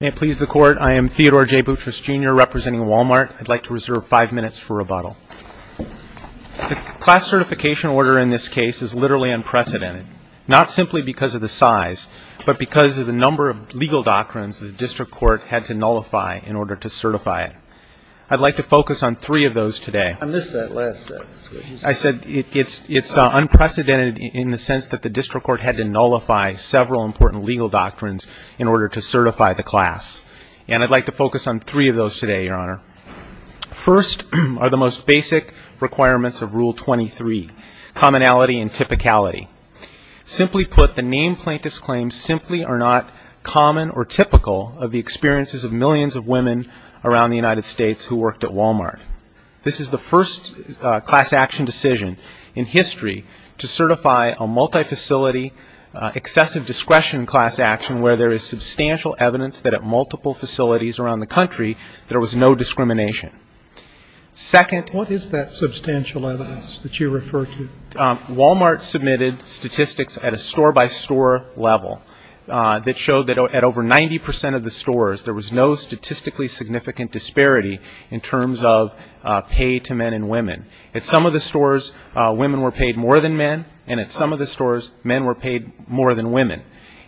May it please the Court, I am Theodore J. Boutrous, Jr., representing Wal-Mart. I'd like to reserve five minutes for rebuttal. The class certification order in this case is literally unprecedented, not simply because of the size, but because of the number of legal doctrines the district court had to nullify in order to certify it. I'd like to focus on three of those today. First are the most basic requirements of Rule 23, Commonality and Typicality. Simply put, the named plaintiffs' claims simply are not common or typical of the experiences of millions of women around the United States who worked at Wal-Mart. The first class action decision in history to certify a multi-facility excessive discretion class action where there is substantial evidence that at multiple facilities around the country, there was no discrimination. Second... What is that substantial evidence that you refer to? Wal-Mart submitted statistics at a store-by-store level that showed that at over 90 percent of the stores, there was no statistically significant disparity in terms of pay to men and women. At some of the stores, women were paid more than men, and at some of the stores, men were paid more than women.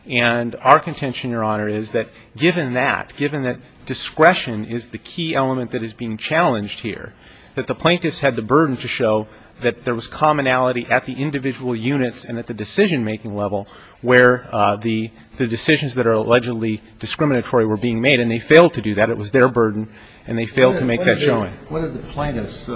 And our contention, Your Honor, is that given that, given that discretion is the key element that is being challenged here, that the plaintiffs had the burden to show that there was commonality at the individual units and at the decision-making level where the decisions that are allegedly discriminatory were being made. And they failed to do that. It was their burden, and they failed to make that showing. What did the plaintiff's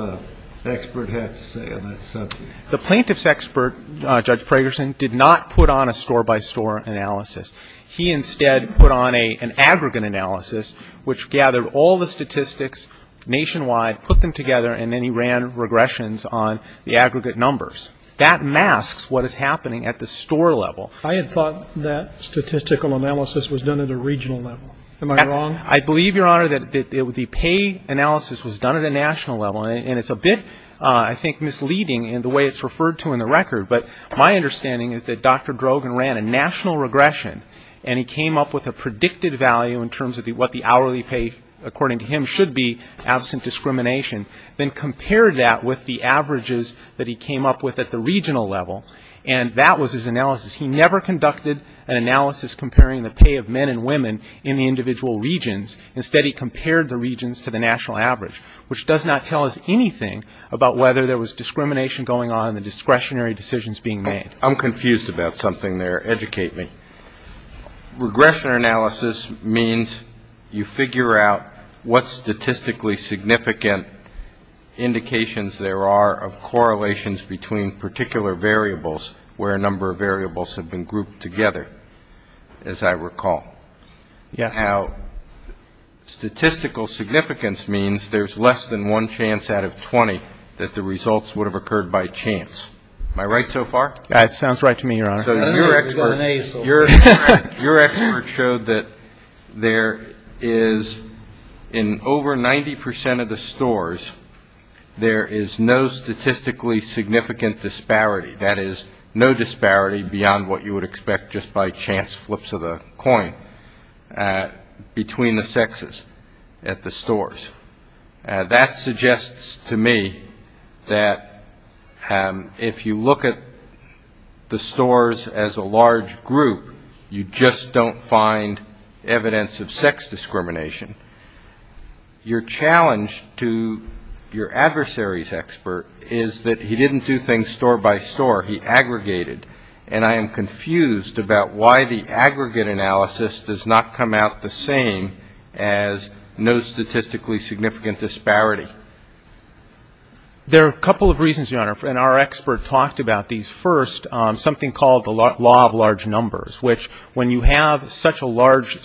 expert have to say on that subject? The plaintiff's expert, Judge Pragerson, did not put on a store-by-store analysis. He instead put on an aggregate analysis which gathered all the statistics nationwide, put them together, and then he ran regressions on the aggregate numbers. That masks what is happening at the store level. I had thought that statistical analysis was done at a regional level. Am I wrong? I believe, Your Honor, that the pay analysis was done at a national level, and it's a bit, I think, misleading in the way it's referred to in the record. But my understanding is that Dr. Drogen ran a national regression, and he came up with a predicted value in terms of what the hourly pay, according to him, should be absent discrimination, then compared that with the averages that he came up with at the regional level, and that was his analysis. He never conducted an analysis comparing the pay of men and women in the individual regions. Instead, he compared the regions to the national average, which does not tell us anything about whether there was discrimination going on and the discretionary decisions being made. I'm confused about something there. Educate me. Regression analysis means you figure out what statistically significant indications there are of correlations between particular variables where a number of variables have been grouped together, as I recall. Yes. Now, statistical significance means there's less than one chance out of 20 that the results would have occurred by chance. Am I right so far? That sounds right to me, Your Honor. Your expert showed that there is, in over 90 percent of the stores, there is no statistically significant disparity. That is, no disparity beyond what you would expect just by chance flips of the coin between the sexes at the stores. That suggests to me that if you look at the stores as a large group, you just don't find evidence of sex discrimination. Your challenge to your adversary's expert is that he didn't do things store by store. He aggregated. And I am confused about why the aggregate analysis does not come out the same as no statistically significant disparity. There are a couple of reasons, Your Honor, and our expert talked about these. First, something called the law of large numbers, which when you have such a large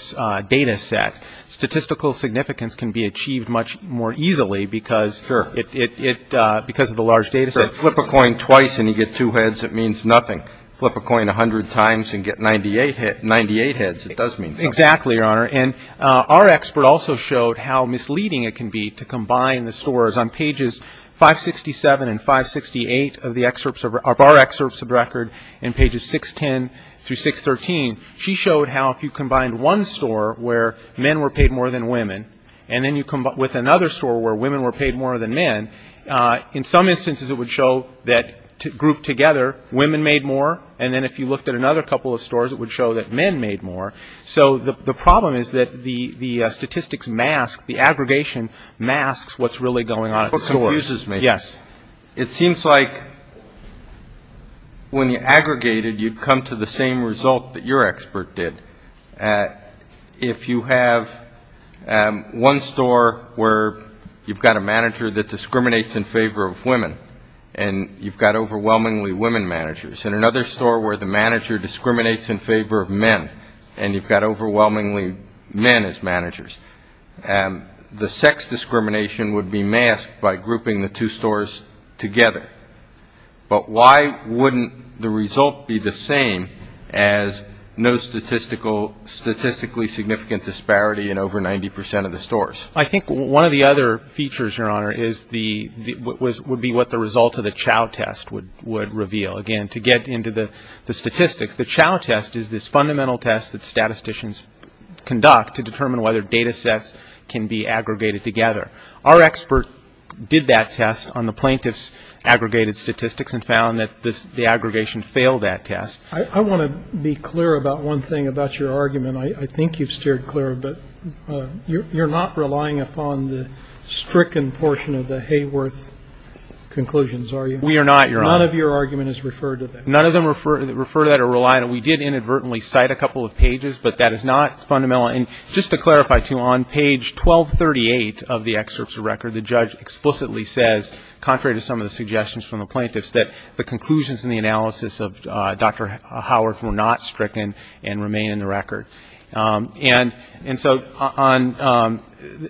data set, statistical significance can be achieved much more easily because it, because of the large data set. If you flip a coin twice and you get two heads, it means nothing. Flip a coin a hundred times and get 98 heads, it does mean something. Exactly, Your Honor. And our expert also showed how misleading it can be to combine the stores. On pages 567 and 568 of the excerpts, of our excerpts of record in pages 610 through 613, she showed how if you combined one store where men were paid more than women, and then you combine it with another store where women were paid more than men, in some instances it would show that grouped together, women made more. And then if you looked at another couple of stores, it would show that men made more. So the problem is that the statistics mask, the aggregation masks what's really going on at the store. What confuses me. Yes. It seems like when you aggregated, you'd come to the same result that your expert did. If you have one store where you've got a manager that discriminates in favor of women and you've got overwhelmingly women managers, and another store where the manager discriminates in favor of men and you've got overwhelmingly men as managers, the sex discrimination would be masked by grouping the two stores together. But why wouldn't the result be the same as no statistically significant disparity in over 90 percent of the stores? I think one of the other features, Your Honor, would be what the result of the Chow test would reveal. Again, to get into the statistics, the Chow test is this fundamental test that statisticians conduct to determine whether data sets can be aggregated together. Our expert did that test on the plaintiff's aggregated statistics and found that the aggregation failed that test. I want to be clear about one thing about your argument. I think you've steered clear, but you're not relying upon the stricken portion of the Hayworth conclusions, are you? We are not, Your Honor. None of your argument is referred to that. None of them refer to that or rely on it. We did inadvertently cite a couple of pages, but that is not fundamental. And just to clarify, too, on page 1238 of the excerpts of record, the judge explicitly says, contrary to some of the suggestions from the plaintiffs, that the conclusions in the analysis of Dr. Hayworth were not stricken and remain in the record. And so on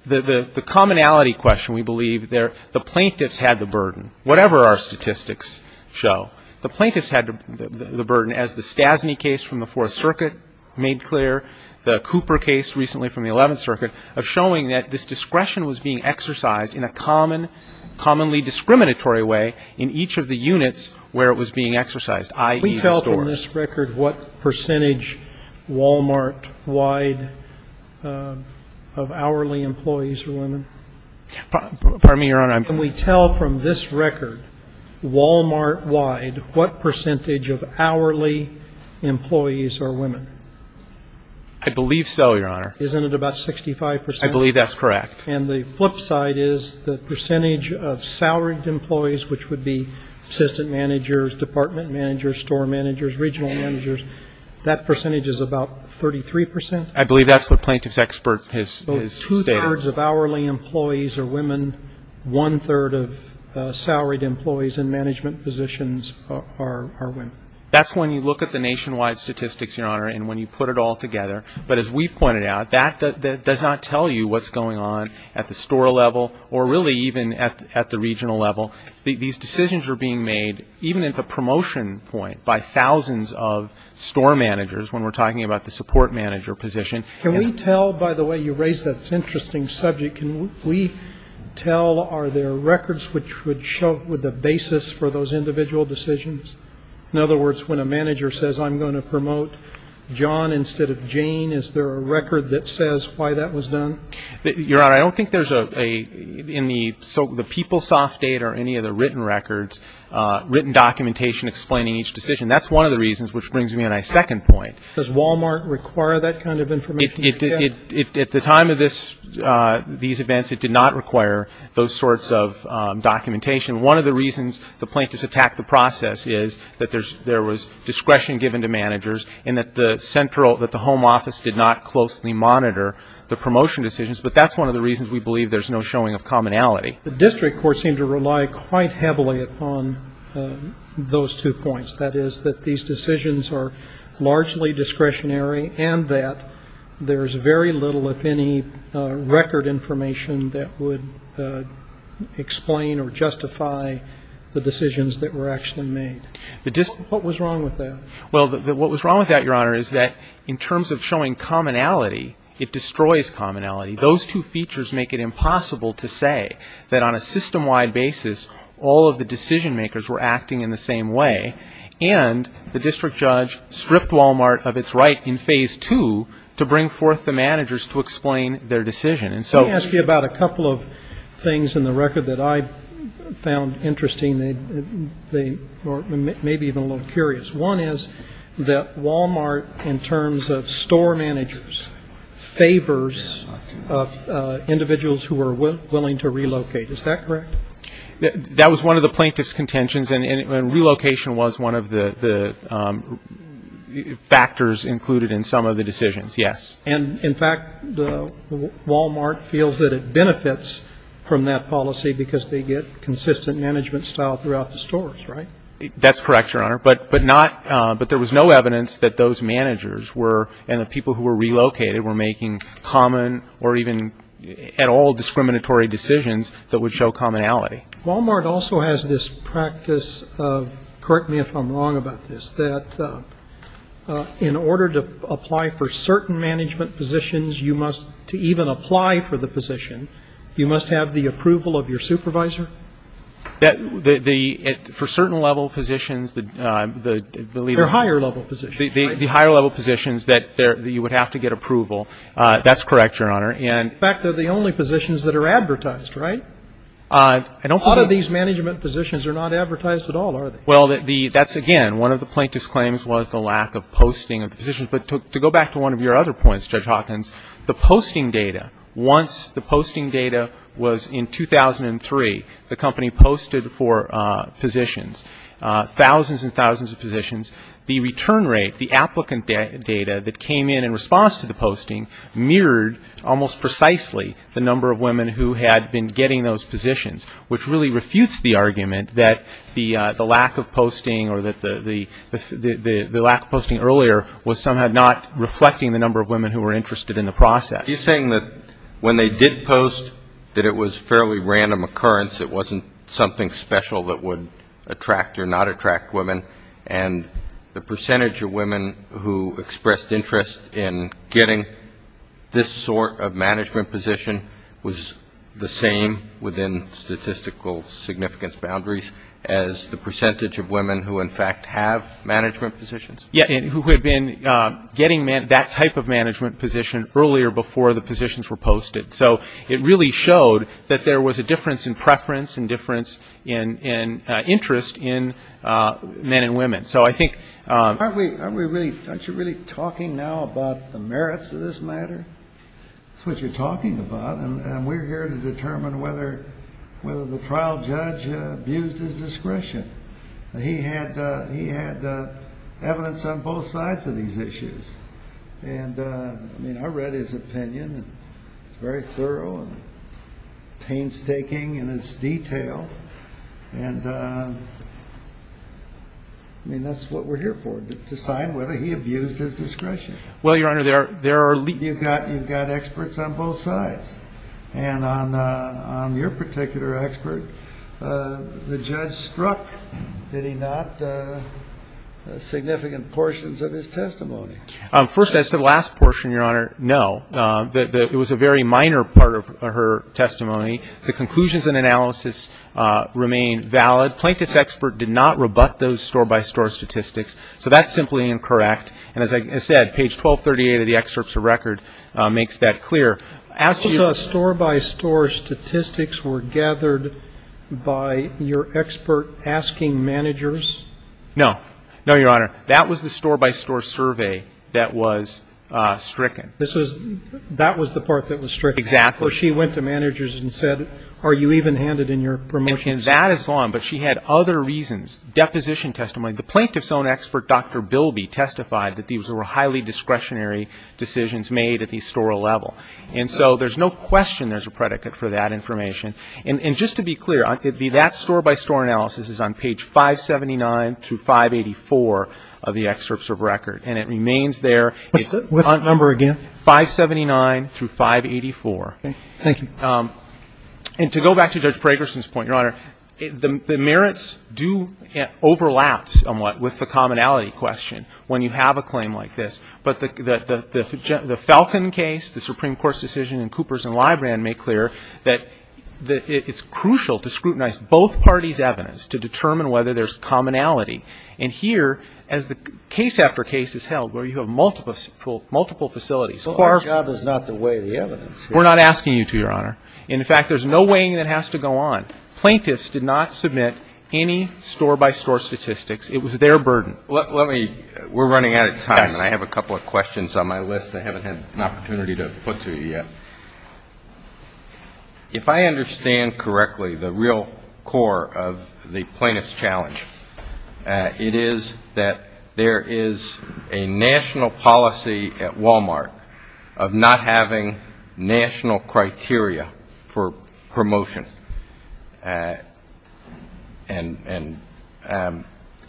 the commonality question, we believe the plaintiffs had the burden, whatever our statistics show. The plaintiffs had the burden, as the Stasny case from the Fourth Circuit made clear, the Cooper case recently from the Eleventh Circuit, of showing that this discretion was being exercised in a common, commonly discriminatory way in each of the units where it was being exercised, i.e., the stores. Can we tell from this record what percentage Walmart-wide of hourly employees are women? Pardon me, Your Honor. Can we tell from this record Walmart-wide what percentage of hourly employees are women? I believe so, Your Honor. Isn't it about 65 percent? I believe that's correct. And the flip side is the percentage of salaried employees, which would be assistant managers, department managers, store managers, regional managers, that percentage is about 33 percent? I believe that's what plaintiff's expert has stated. One-third of hourly employees are women. One-third of salaried employees in management positions are women. That's when you look at the nationwide statistics, Your Honor, and when you put it all together. But as we pointed out, that does not tell you what's going on at the store level or really even at the regional level. These decisions are being made even at the promotion point by thousands of store managers when we're talking about the support manager position. Can we tell, by the way, you raised that interesting subject, can we tell are there records which would show the basis for those individual decisions? In other words, when a manager says, I'm going to promote John instead of Jane, is there a record that says why that was done? Your Honor, I don't think there's in the PeopleSoft data or any of the written records written documentation explaining each decision. That's one of the reasons, which brings me to my second point. Does Walmart require that kind of information? At the time of these events, it did not require those sorts of documentation. One of the reasons the plaintiffs attacked the process is that there was discretion given to managers and that the central, that the home office did not closely monitor the promotion decisions. But that's one of the reasons we believe there's no showing of commonality. The district courts seem to rely quite heavily upon those two points. That is that these decisions are largely discretionary and that there's very little, if any, record information that would explain or justify the decisions that were actually made. What was wrong with that? Well, what was wrong with that, Your Honor, is that in terms of showing commonality, it destroys commonality. Those two features make it impossible to say that on a system-wide basis all of the district judge stripped Walmart of its right in phase two to bring forth the managers to explain their decision. Let me ask you about a couple of things in the record that I found interesting, or maybe even a little curious. One is that Walmart, in terms of store managers, favors individuals who are willing to relocate. Is that correct? That was one of the plaintiff's contentions, and relocation was one of the factors included in some of the decisions, yes. And in fact, Walmart feels that it benefits from that policy because they get consistent management style throughout the stores, right? That's correct, Your Honor. But there was no evidence that those managers were, and the people who were relocated, were making common or even at all discriminatory decisions that would show commonality Walmart also has this practice, correct me if I'm wrong about this, that in order to apply for certain management positions, you must, to even apply for the position, you must have the approval of your supervisor? That, the, for certain level positions, I believe They're higher level positions, right? The higher level positions that you would have to get approval. That's correct, Your Honor. In fact, they're the only positions that are advertised, right? A lot of these management positions are not advertised at all, are they? Well, that's again, one of the plaintiff's claims was the lack of posting of the positions. But to go back to one of your other points, Judge Hawkins, the posting data, once the posting data was in 2003, the company posted for positions, thousands and thousands of positions. The return rate, the applicant data that came in in response to the posting mirrored almost precisely the number of women who had been getting those positions, which really refutes the argument that the lack of posting or that the lack of posting earlier was somehow not reflecting the number of women who were interested in the process. He's saying that when they did post, that it was a fairly random occurrence. It wasn't something special that would attract or not attract women. And the percentage of women who expressed interest in getting this sort of management position was the same within statistical significance boundaries as the percentage of women who, in fact, have management positions? Yeah, and who had been getting that type of management position earlier before the positions were posted. So it really showed that there was a difference in preference and difference in interest in men and women. Aren't you really talking now about the merits of this matter? That's what you're talking about. And we're here to determine whether the trial judge abused his discretion. He had evidence on both sides of these issues. And, I mean, I read his opinion. It's very thorough and painstaking in its detail. And, I mean, that's what we're here for, to decide whether he abused his discretion. Well, Your Honor, there are leaks. You've got experts on both sides. And on your particular expert, the judge struck, did he not, significant portions of his testimony? First, as to the last portion, Your Honor, no. It was a very minor part of her testimony. The conclusions and analysis remain valid. Plaintiff's expert did not rebut those store-by-store statistics. So that's simply incorrect. And as I said, page 1238 of the excerpts of record makes that clear. As to store-by-store statistics were gathered by your expert asking managers? No. No, Your Honor. That was the store-by-store survey that was stricken. This was the part that was stricken. Exactly. So she went to managers and said, are you even handed in your promotion? And that is gone. But she had other reasons. Deposition testimony. The plaintiff's own expert, Dr. Bilby, testified that these were highly discretionary decisions made at the store-level. And so there's no question there's a predicate for that information. And just to be clear, that store-by-store analysis is on page 579 through 584 of the excerpts of record. And it remains there. What's the number again? 579 through 584. Thank you. And to go back to Judge Pragerson's point, Your Honor, the merits do overlap somewhat with the commonality question when you have a claim like this. But the Falcon case, the Supreme Court's decision in Coopers and Librand make clear that it's crucial to scrutinize both parties' evidence to determine whether there's commonality. And here, as the case after case is held where you have multiple facilities So our job is not to weigh the evidence. We're not asking you to, Your Honor. In fact, there's no weighing that has to go on. Plaintiffs did not submit any store-by-store statistics. It was their burden. Let me we're running out of time. I have a couple of questions on my list. I haven't had an opportunity to put to you yet. If I understand correctly, the real core of the plaintiff's challenge, it is that there is a national policy at Walmart of not having national criteria for promotion. And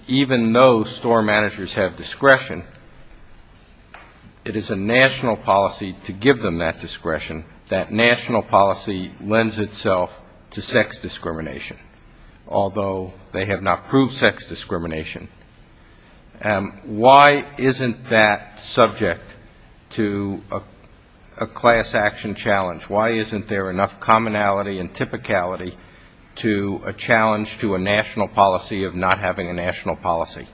even though store managers have discretion, it is a national policy to give them that discretion, that national policy lends itself to sex discrimination, although they have not proved sex discrimination. Why isn't that subject to a class action challenge? Why isn't there enough commonality and typicality to a challenge to a national policy of not having a national policy?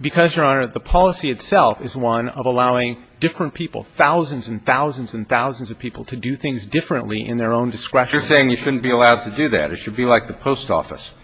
Because, Your Honor, the policy itself is one of allowing different people, thousands and thousands and thousands of people to do things differently in their own discretion. You're saying you shouldn't be allowed to do that. It should be like the post office.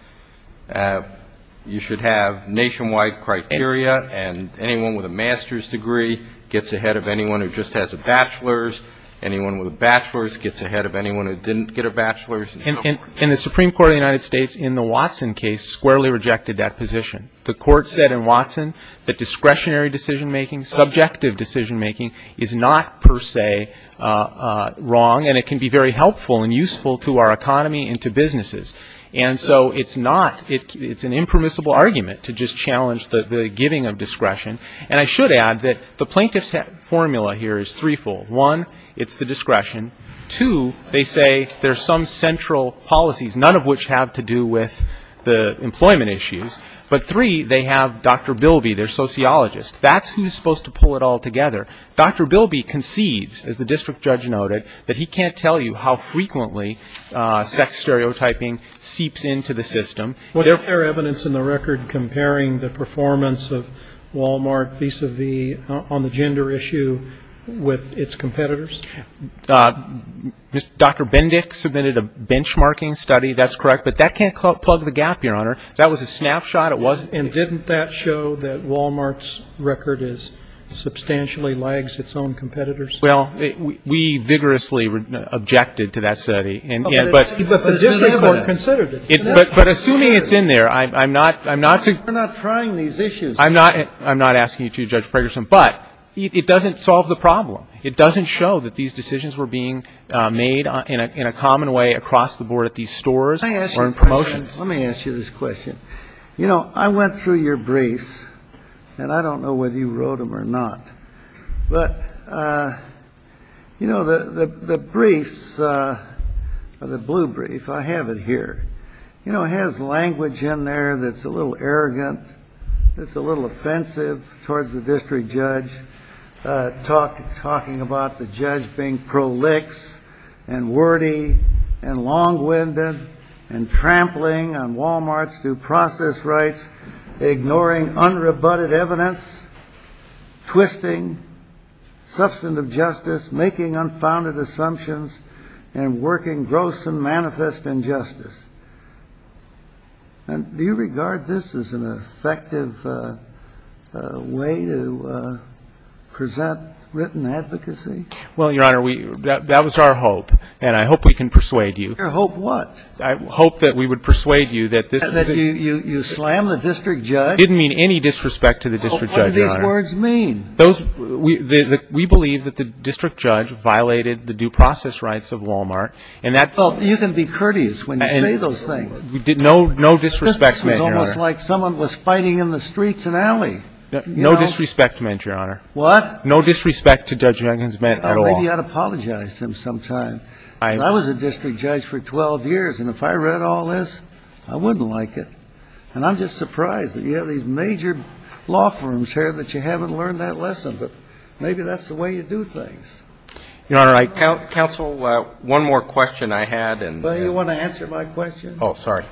You should have nationwide criteria. And anyone with a master's degree gets ahead of anyone who just has a bachelor's. Anyone with a bachelor's gets ahead of anyone who didn't get a bachelor's and so forth. And the Supreme Court of the United States in the Watson case squarely rejected that position. The court said in Watson that discretionary decision-making, subjective decision-making, is not per se wrong. And it can be very helpful and useful to our economy and to businesses. And so it's not an impermissible argument to just challenge the giving of discretion. And I should add that the plaintiff's formula here is threefold. One, it's the discretion. Two, they say there's some central policies, none of which have to do with the employment issues. But three, they have Dr. Bilby, their sociologist. That's who's supposed to pull it all together. Dr. Bilby concedes, as the district judge noted, that he can't tell you how frequently sex stereotyping seeps into the system. Was there evidence in the record comparing the performance of Walmart vis-a-vis on the gender issue with its competitors? Dr. Bendick submitted a benchmarking study. That's correct. But that can't plug the gap, Your Honor. That was a snapshot. It wasn't. And didn't that show that Walmart's record substantially lags its own competitors? Well, we vigorously objected to that study. But the district court considered it. But assuming it's in there, I'm not to ---- We're not trying these issues. I'm not asking you to, Judge Fragerson. But it doesn't solve the problem. It doesn't show that these decisions were being made in a common way across the board at these stores or in promotions. Let me ask you this question. You know, I went through your briefs, and I don't know whether you wrote them or not. But, you know, the briefs, the blue brief, I have it here. You know, it has language in there that's a little arrogant, that's a little offensive towards the district judge, talking about the judge being prolix and wordy and long-winded and trampling on Walmart's due process rights, ignoring unrebutted evidence, twisting substantive justice, making unfounded assumptions, and working gross and manifest injustice. And do you regard this as an effective way to present written advocacy? Well, Your Honor, that was our hope, and I hope we can persuade you. Your hope what? I hope that we would persuade you that this is a ---- That you slam the district judge? Didn't mean any disrespect to the district judge, Your Honor. What do these words mean? Those ---- we believe that the district judge violated the due process rights of Walmart, and that ---- Well, you can be courteous when you say those things. No disrespect, Your Honor. This is almost like someone was fighting in the streets in Alley. No disrespect meant, Your Honor. What? No disrespect to Judge Jenkins meant at all. Maybe you ought to apologize to him sometime. I was a district judge for 12 years, and if I read all this, I wouldn't like it. And I'm just surprised that you have these major law firms here that you haven't learned that lesson. But maybe that's the way you do things. Your Honor, I ---- Counsel, one more question I had, and ---- Well, you want to answer my question? Oh, sorry.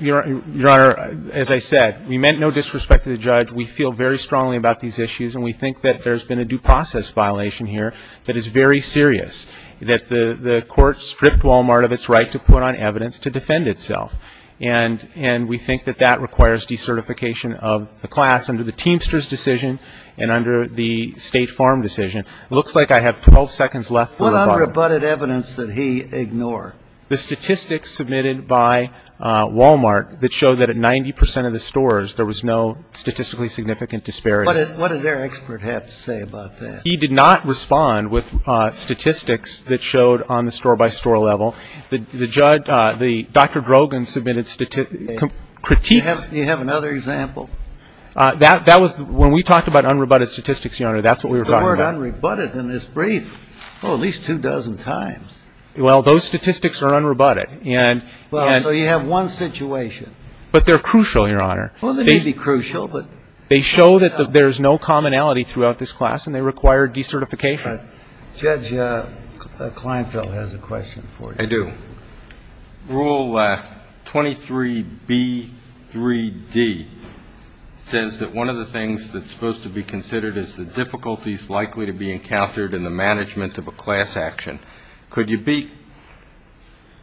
Your Honor, as I said, we meant no disrespect to the judge. We feel very strongly about these issues, and we think that there's been a due process violation here that is very serious, that the court stripped Walmart of its right to put on evidence to defend itself. And we think that that requires decertification of the class under the Teamsters decision and under the State Farm decision. It looks like I have 12 seconds left for rebuttal. What unrebutted evidence did he ignore? The statistics submitted by Walmart that showed that at 90 percent of the stores, there was no statistically significant disparity. What did their expert have to say about that? He did not respond with statistics that showed on the store-by-store level. The judge, the Dr. Drogon submitted critiques. Do you have another example? That was when we talked about unrebutted statistics, Your Honor, that's what we were talking about. The court unrebutted in this brief, oh, at least two dozen times. Well, those statistics are unrebutted. Well, so you have one situation. But they're crucial, Your Honor. Well, they may be crucial, but. They show that there's no commonality throughout this class, and they require decertification. Judge Kleinfeld has a question for you. I do. Rule 23B3D says that one of the things that's supposed to be considered is the difficulties likely to be encountered in the management of a class action. Could you be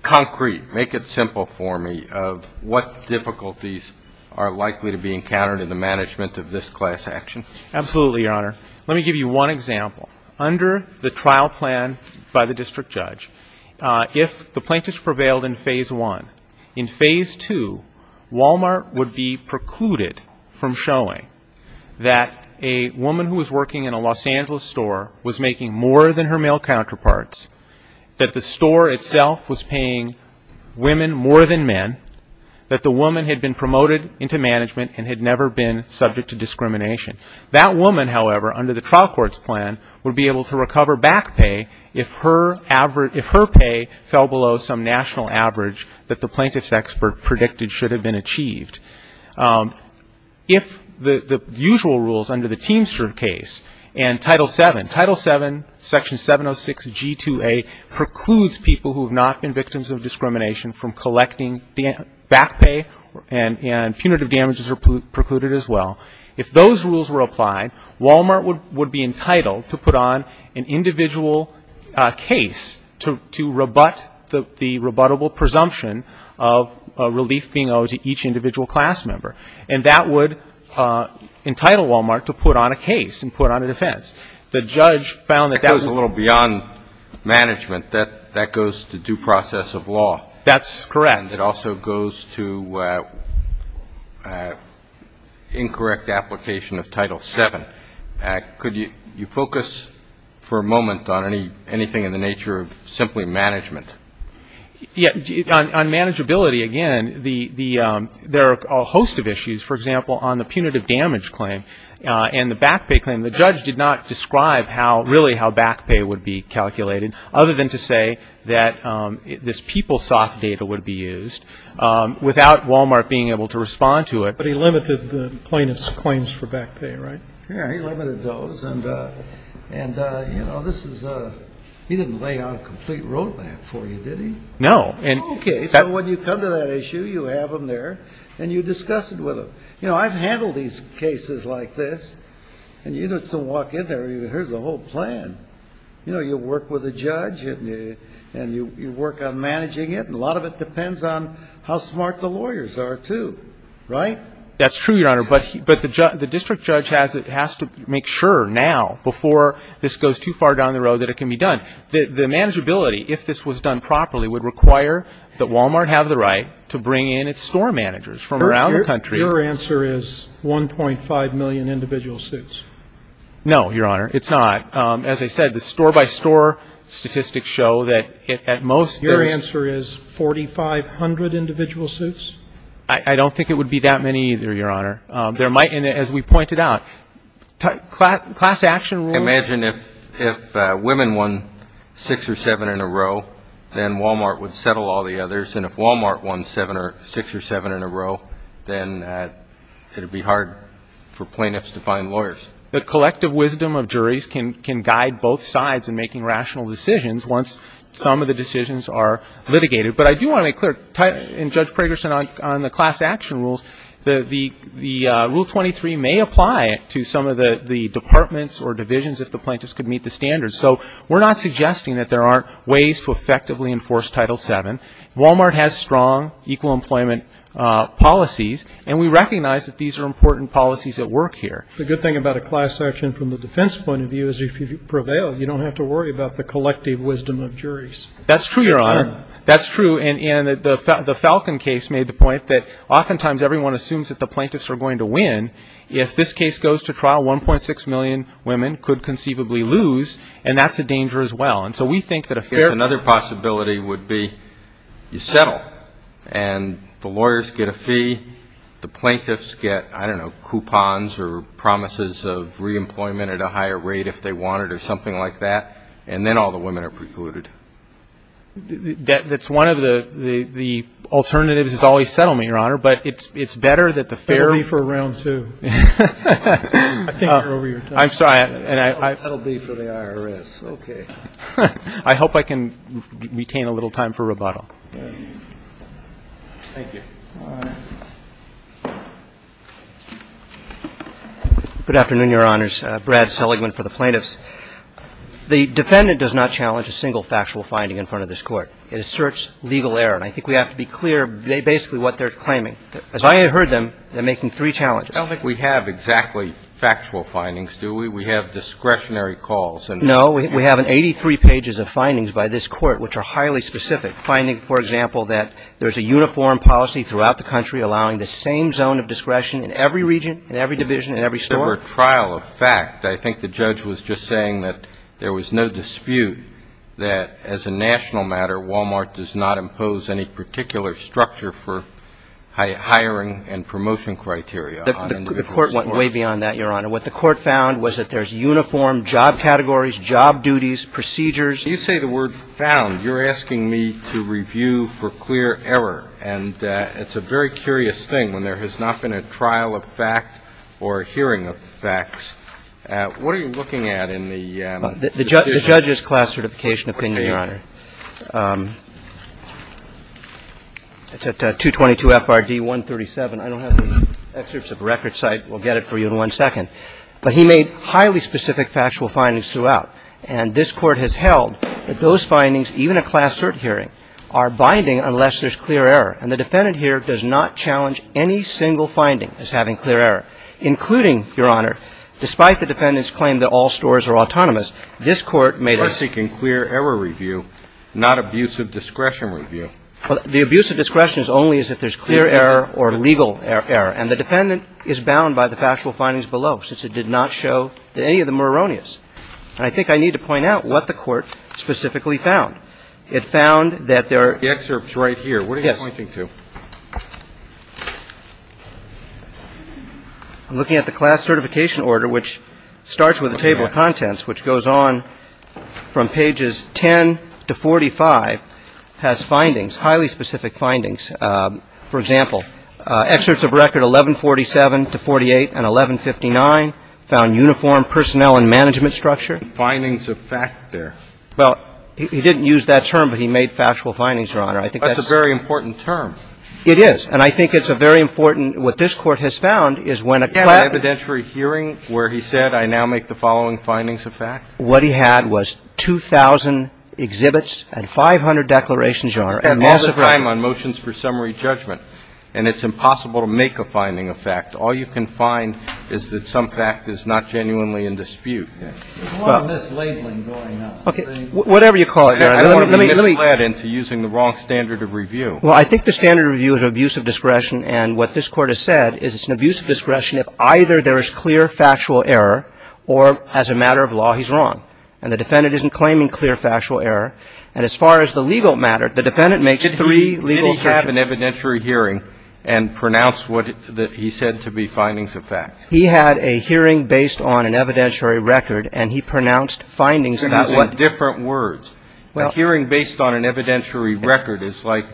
concrete, make it simple for me, of what difficulties are likely to be encountered in the management of this class action? Absolutely, Your Honor. Let me give you one example. Under the trial plan by the district judge, if the plaintiffs prevailed in Phase 1, in Phase 2, Walmart would be precluded from showing that a woman who was working in a Los Angeles store was making more than her male counterparts, that the store itself was paying women more than men, that the woman had been promoted into management and had never been subject to discrimination. That woman, however, under the trial court's plan, would be able to recover back pay if her pay fell below some national average that the plaintiff's expert predicted should have been achieved. If the usual rules under the Teamster case and Title VII, Title VII, Section 706G2A, precludes people who have not been victims of discrimination from collecting back pay, and punitive damages are precluded as well. If those rules were applied, Walmart would be entitled to put on an individual case to rebut the rebuttable presumption of a relief being owed to each individual class member. And that would entitle Walmart to put on a case and put on a defense. The judge found that that was a little beyond management. That goes to due process of law. That's correct. And it also goes to incorrect application of Title VII. Could you focus for a moment on anything in the nature of simply management? On manageability, again, there are a host of issues. For example, on the punitive damage claim and the back pay claim, the judge did not describe really how back pay would be calculated, other than to say that this PeopleSoft data would be used, without Walmart being able to respond to it. But he limited the plaintiff's claims for back pay, right? Yeah, he limited those. And, you know, this is a ‑‑ he didn't lay out a complete roadmap for you, did he? No. Okay, so when you come to that issue, you have them there, and you discuss it with them. You know, I've handled these cases like this, and you get to walk in there, here's the whole plan. You know, you work with a judge, and you work on managing it, and a lot of it depends on how smart the lawyers are, too, right? That's true, Your Honor. But the district judge has to make sure now, before this goes too far down the road, that it can be done. The manageability, if this was done properly, would require that Walmart have the right to bring in its store managers from around the country. Your answer is 1.5 million individual suits. No, Your Honor, it's not. As I said, the store-by-store statistics show that at most there's ‑‑ Your answer is 4,500 individual suits? I don't think it would be that many either, Your Honor. There might be, as we pointed out, class action rules. Imagine if women won six or seven in a row, then Walmart would settle all the others, and if Walmart won six or seven in a row, then it would be hard for plaintiffs to find lawyers. The collective wisdom of juries can guide both sides in making rational decisions once some of the decisions are litigated. But I do want to make clear, and Judge Prager said on the class action rules, that the Rule 23 may apply to some of the departments or divisions if the plaintiffs could meet the standards. So we're not suggesting that there aren't ways to effectively enforce Title VII. Walmart has strong equal employment policies, and we recognize that these are important policies at work here. The good thing about a class action from the defense point of view is if you prevail, you don't have to worry about the collective wisdom of juries. That's true, Your Honor. That's true, and the Falcon case made the point that oftentimes everyone assumes that the plaintiffs are going to win. If this case goes to trial, 1.6 million women could conceivably lose, and that's a danger as well. And so we think that a fair ‑‑ Another possibility would be you settle, and the lawyers get a fee, the plaintiffs get, I don't know, coupons or promises of reemployment at a higher rate if they want it or something like that, and then all the women are precluded. That's one of the alternatives is always settlement, Your Honor, but it's better that the fair ‑‑ That will be for round two. I think you're over your time. I'm sorry. That will be for the IRS. Okay. I hope I can retain a little time for rebuttal. Thank you. All right. Good afternoon, Your Honors. Brad Seligman for the plaintiffs. The defendant does not challenge a single factual finding in front of this Court. It asserts legal error, and I think we have to be clear basically what they're claiming. As I heard them, they're making three challenges. I don't think we have exactly factual findings, do we? We have discretionary calls. No, we have 83 pages of findings by this Court which are highly specific, finding, for example, that there's a uniform policy throughout the country allowing the same zone of discretion in every region, in every division, in every store. There were trial of fact. I think the judge was just saying that there was no dispute that as a national matter, Walmart does not impose any particular structure for hiring and promotion criteria on individuals. The Court went way beyond that, Your Honor. What the Court found was that there's uniform job categories, job duties, procedures. When you say the word found, you're asking me to review for clear error, and it's a very curious thing when there has not been a trial of fact or a hearing of facts. What are you looking at in the decision? The judge's class certification opinion, Your Honor. What page? It's at 222 FRD 137. I don't have the excerpts of the record, so I will get it for you in one second. But he made highly specific factual findings throughout. And this Court has held that those findings, even a class cert hearing, are binding unless there's clear error. And the defendant here does not challenge any single finding as having clear error, including, Your Honor, despite the defendant's claim that all stores are autonomous, this Court made a – We're seeking clear error review, not abuse of discretion review. Well, the abuse of discretion is only if there's clear error or legal error. And the defendant is bound by the factual findings below, since it did not show that any of them were erroneous. And I think I need to point out what the Court specifically found. It found that there are – The excerpt's right here. Yes. What are you pointing to? I'm looking at the class certification order, which starts with a table of contents, which goes on from pages 10 to 45, has findings, highly specific findings. For example, excerpts of record 1147 to 48 and 1159 found uniform personnel and management structure. Findings of fact there. Well, he didn't use that term, but he made factual findings, Your Honor. I think that's – That's a very important term. It is. And I think it's a very important – what this Court has found is when a – He had an evidentiary hearing where he said, I now make the following findings of fact. What he had was 2,000 exhibits and 500 declarations, Your Honor. And all the time on motions for summary judgment. And it's impossible to make a finding of fact. All you can find is that some fact is not genuinely in dispute. There's a lot of mislabeling going on. Okay. Whatever you call it, Your Honor. Let me – I don't want to be misled into using the wrong standard of review. Well, I think the standard of review is an abuse of discretion. And what this Court has said is it's an abuse of discretion if either there is clear factual error or as a matter of law he's wrong. And the defendant isn't claiming clear factual error. And as far as the legal matter, the defendant makes three legal assertions. Did he have an evidentiary hearing and pronounce what he said to be findings of fact? He had a hearing based on an evidentiary record. And he pronounced findings about what – So he's using different words. Well – A hearing based on an evidentiary record is like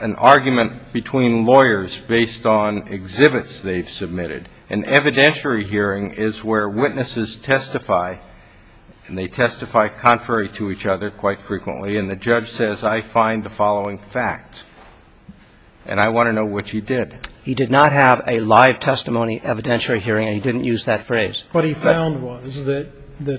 an argument between lawyers based on exhibits they've submitted. An evidentiary hearing is where witnesses testify, and they testify contrary to each other quite frequently. And the judge says, I find the following facts. And I want to know what you did. He did not have a live testimony evidentiary hearing, and he didn't use that phrase. What he found was that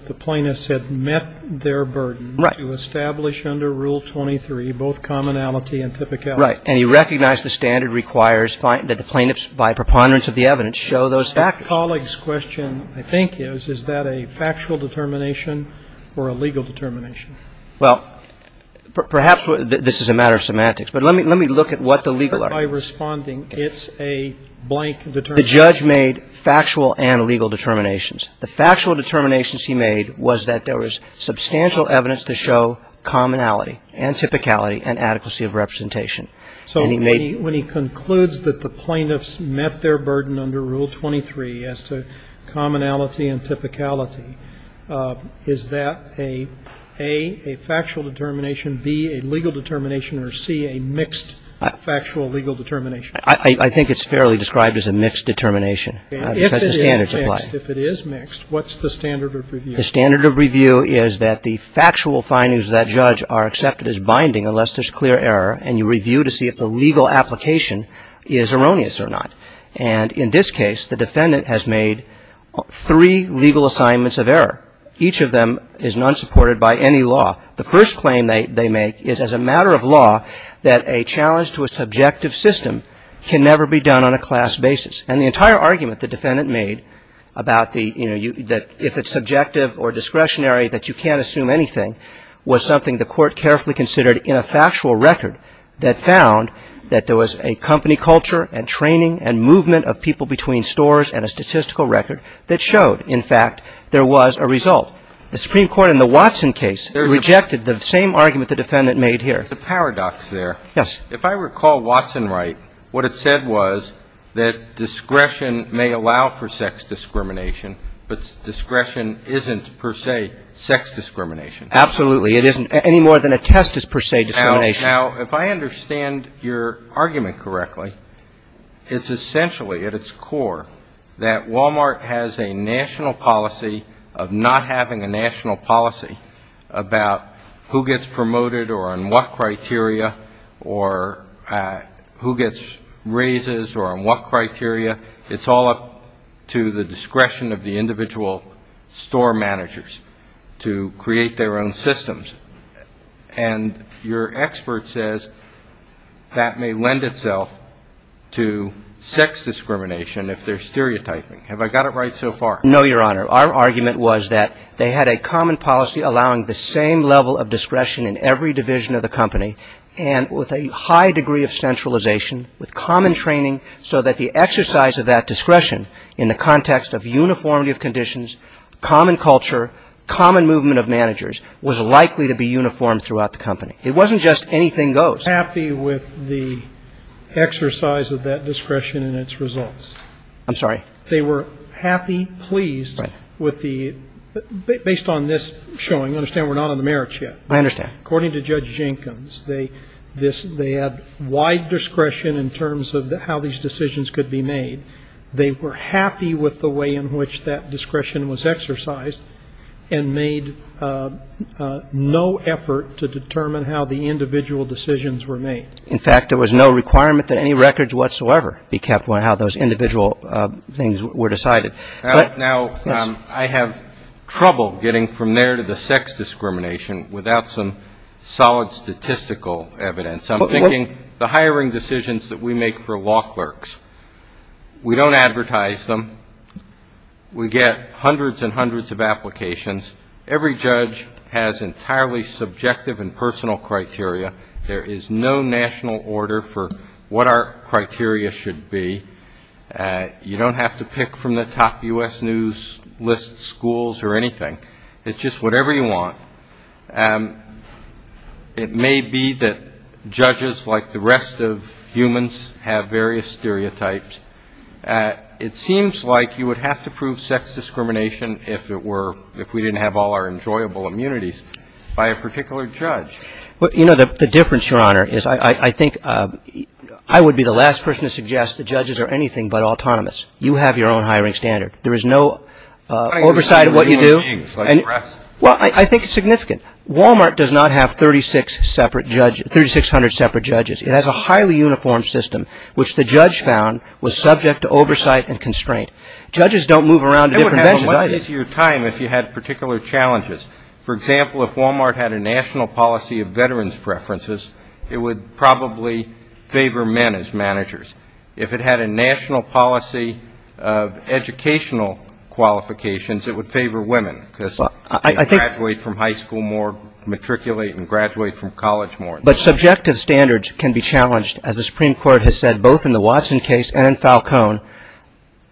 the plaintiffs had met their burden to establish under Rule 23 both commonality and typicality. Right. And he recognized the standard requires that the plaintiffs by preponderance of the evidence show those factors. The colleague's question I think is, is that a factual determination or a legal determination? Well, perhaps this is a matter of semantics. But let me look at what the legal argument is. By responding, it's a blank determination. The judge made factual and legal determinations. The factual determinations he made was that there was substantial evidence to show commonality and typicality and adequacy of representation. So when he concludes that the plaintiffs met their burden under Rule 23 as to commonality and typicality, is that a, A, a factual determination, B, a legal determination, or C, a mixed factual legal determination? I think it's fairly described as a mixed determination because the standards apply. If it is mixed, what's the standard of review? The standard of review is that the factual findings of that judge are accepted as binding unless there's clear error, and you review to see if the legal application is erroneous or not. And in this case, the defendant has made three legal assignments of error. Each of them is not supported by any law. The first claim they make is as a matter of law that a challenge to a subjective system can never be done on a class basis. And the entire argument the defendant made about the, you know, that if it's subjective or discretionary that you can't assume anything was something the Court carefully considered in a factual record that found that there was a company culture and training and movement of people between stores and a statistical record that showed, in fact, there was a result. The Supreme Court in the Watson case rejected the same argument the defendant made here. The paradox there. Yes. If I recall Watson right, what it said was that discretion may allow for sex discrimination, but discretion isn't per se sex discrimination. Absolutely. It isn't any more than a test is per se discrimination. Now, if I understand your argument correctly, it's essentially at its core that Walmart has a national policy of not having a national policy about who gets promoted or on what criteria or who gets raises or on what criteria. It's all up to the discretion of the individual store managers to create their own systems. And your expert says that may lend itself to sex discrimination if they're stereotyping. Have I got it right so far? No, Your Honor. Our argument was that they had a common policy allowing the same level of discretion in every division of the company and with a high degree of centralization with common training so that the exercise of that discretion in the context of uniformity of conditions, common culture, common movement of managers was likely to be uniform throughout the company. It wasn't just anything goes. They were happy with the exercise of that discretion and its results. I'm sorry? They were happy, pleased with the – based on this showing, understand we're not on the merits yet. I understand. According to Judge Jenkins, they had wide discretion in terms of how these decisions could be made. They were happy with the way in which that discretion was exercised and made no effort to determine how the individual decisions were made. In fact, there was no requirement that any records whatsoever be kept on how those individual things were decided. Now, I have trouble getting from there to the sex discrimination without some solid statistical evidence. I'm thinking the hiring decisions that we make for law clerks. We don't advertise them. We get hundreds and hundreds of applications. Every judge has entirely subjective and personal criteria. There is no national order for what our criteria should be. You don't have to pick from the top U.S. news list schools or anything. It's just whatever you want. It may be that judges, like the rest of humans, have various stereotypes. It seems like you would have to prove sex discrimination if we didn't have all our enjoyable immunities by a particular judge. Well, you know, the difference, Your Honor, is I think I would be the last person to suggest that judges are anything but autonomous. You have your own hiring standard. There is no oversight of what you do. Well, I think it's significant. Walmart does not have 3,600 separate judges. It has a highly uniform system, which the judge found was subject to oversight and constraint. Judges don't move around to different benches either. It would have a lot easier time if you had particular challenges. For example, if Walmart had a national policy of veterans' preferences, it would probably favor men as managers. If it had a national policy of educational qualifications, it would favor women because they graduate from high school more, matriculate and graduate from college more. But subjective standards can be challenged, as the Supreme Court has said, both in the Watson case and in Falcone,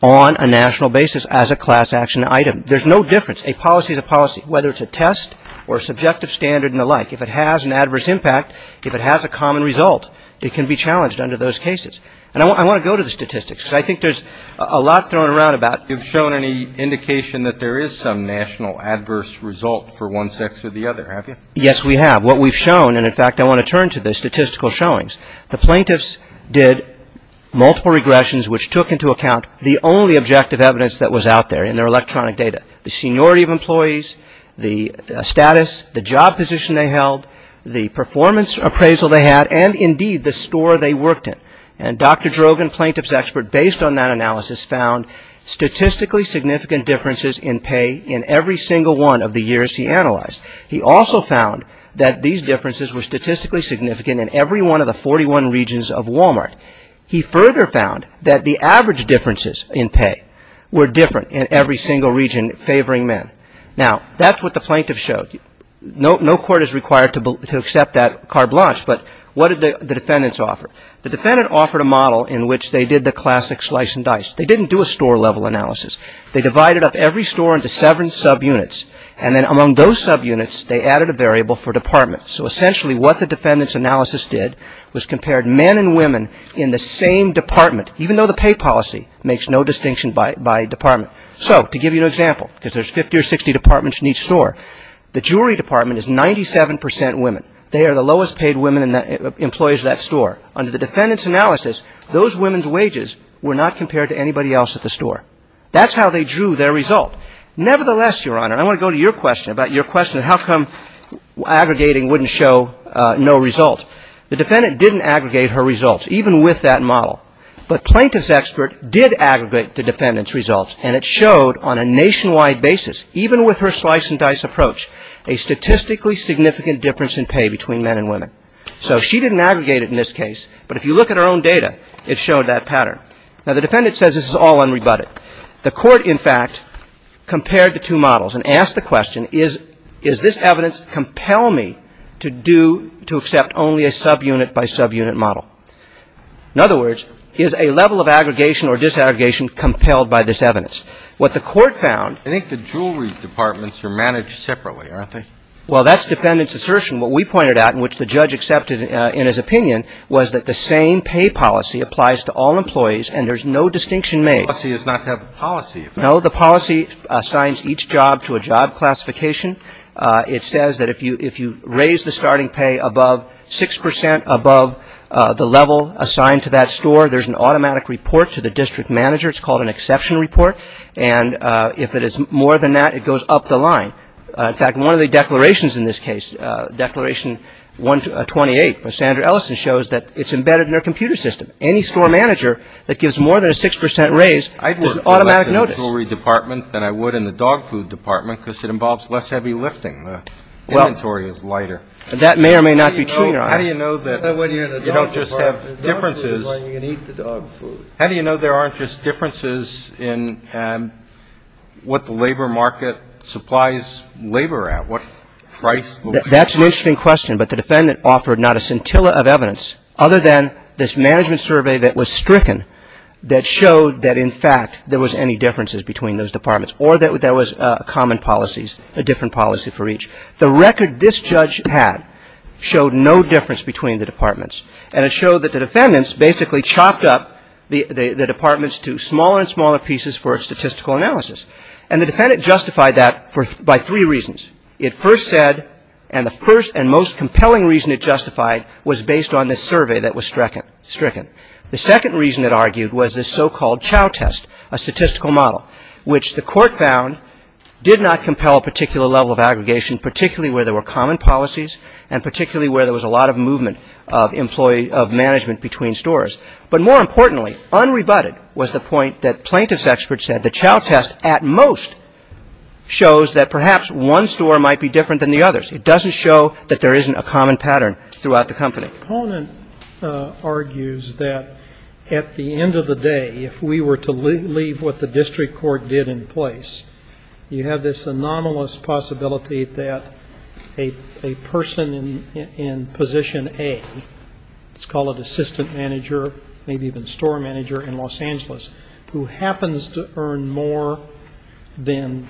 on a national basis as a class action item. There's no difference. A policy is a policy, whether it's a test or a subjective standard and the like. If it has an adverse impact, if it has a common result, it can be challenged under those cases. And I want to go to the statistics because I think there's a lot thrown around about it. You've shown any indication that there is some national adverse result for one sex or the other, have you? Yes, we have. What we've shown, and in fact I want to turn to the statistical showings, the plaintiffs did multiple regressions which took into account the only objective evidence that was out there in their electronic data. The seniority of employees, the status, the job position they held, the performance appraisal they had, and indeed the store they worked in. And Dr. Drogon, plaintiff's expert, based on that analysis, found statistically significant differences in pay in every single one of the years he analyzed. He also found that these differences were statistically significant in every one of the 41 regions of Walmart. He further found that the average differences in pay were different in every single region favoring men. Now, that's what the plaintiff showed. No court is required to accept that carte blanche, but what did the defendants offer? The defendant offered a model in which they did the classic slice and dice. They didn't do a store level analysis. They divided up every store into seven subunits, and then among those subunits they added a variable for department. So essentially what the defendant's analysis did was compared men and women in the same department, even though the pay policy makes no distinction by department. So to give you an example, because there's 50 or 60 departments in each store, the jewelry department is 97 percent women. They are the lowest paid women employees at that store. Under the defendant's analysis, those women's wages were not compared to anybody else at the store. That's how they drew their result. Nevertheless, Your Honor, I want to go to your question about your question of how come aggregating wouldn't show no result. The defendant didn't aggregate her results, even with that model. But plaintiff's expert did aggregate the defendant's results, and it showed on a nationwide basis, even with her slice and dice approach, a statistically significant difference in pay between men and women. So she didn't aggregate it in this case, but if you look at her own data, it showed that pattern. Now, the defendant says this is all unrebutted. The court, in fact, compared the two models and asked the question, is this evidence compel me to do to accept only a subunit by subunit model? In other words, is a level of aggregation or disaggregation compelled by this evidence? What the court found — I think the jewelry departments are managed separately, aren't they? Well, that's defendant's assertion. What we pointed out, and which the judge accepted in his opinion, was that the same pay policy applies to all employees and there's no distinction made. The policy is not to have a policy. No, the policy assigns each job to a job classification. It says that if you raise the starting pay above 6 percent above the level assigned to that store, there's an automatic report to the district manager. It's called an exception report. And if it is more than that, it goes up the line. In fact, one of the declarations in this case, Declaration 128, where Sandra Ellison shows that it's embedded in her computer system. Any store manager that gives more than a 6 percent raise, there's an automatic notice. I'd work for less in the jewelry department than I would in the dog food department because it involves less heavy lifting. The inventory is lighter. Well, that may or may not be true, Your Honor. How do you know that you don't just have differences? The dog food is why you can eat the dog food. How do you know there aren't just differences in what the labor market supplies labor at? What price the workers pay? That's an interesting question, but the defendant offered not a scintilla of evidence other than this management survey that was stricken that showed that, in fact, there was any differences between those departments or that there was common policies, a different policy for each. The record this judge had showed no difference between the departments. And it showed that the defendants basically chopped up the departments to smaller and smaller pieces for a statistical analysis. And the defendant justified that by three reasons. It first said, and the first and most compelling reason it justified was based on this survey that was stricken. The second reason it argued was this so-called chow test, a statistical model, which the court found did not compel a particular level of aggregation, particularly where there were common policies and particularly where there was a lot of movement of management between stores. But more importantly, unrebutted was the point that plaintiff's experts said the chow test at most shows that perhaps one store might be different than the others. It doesn't show that there isn't a common pattern throughout the company. The opponent argues that at the end of the day, if we were to leave what the district court did in place, you have this anomalous possibility that a person in position A, let's call it assistant manager, maybe even store manager in Los Angeles, who happens to earn more than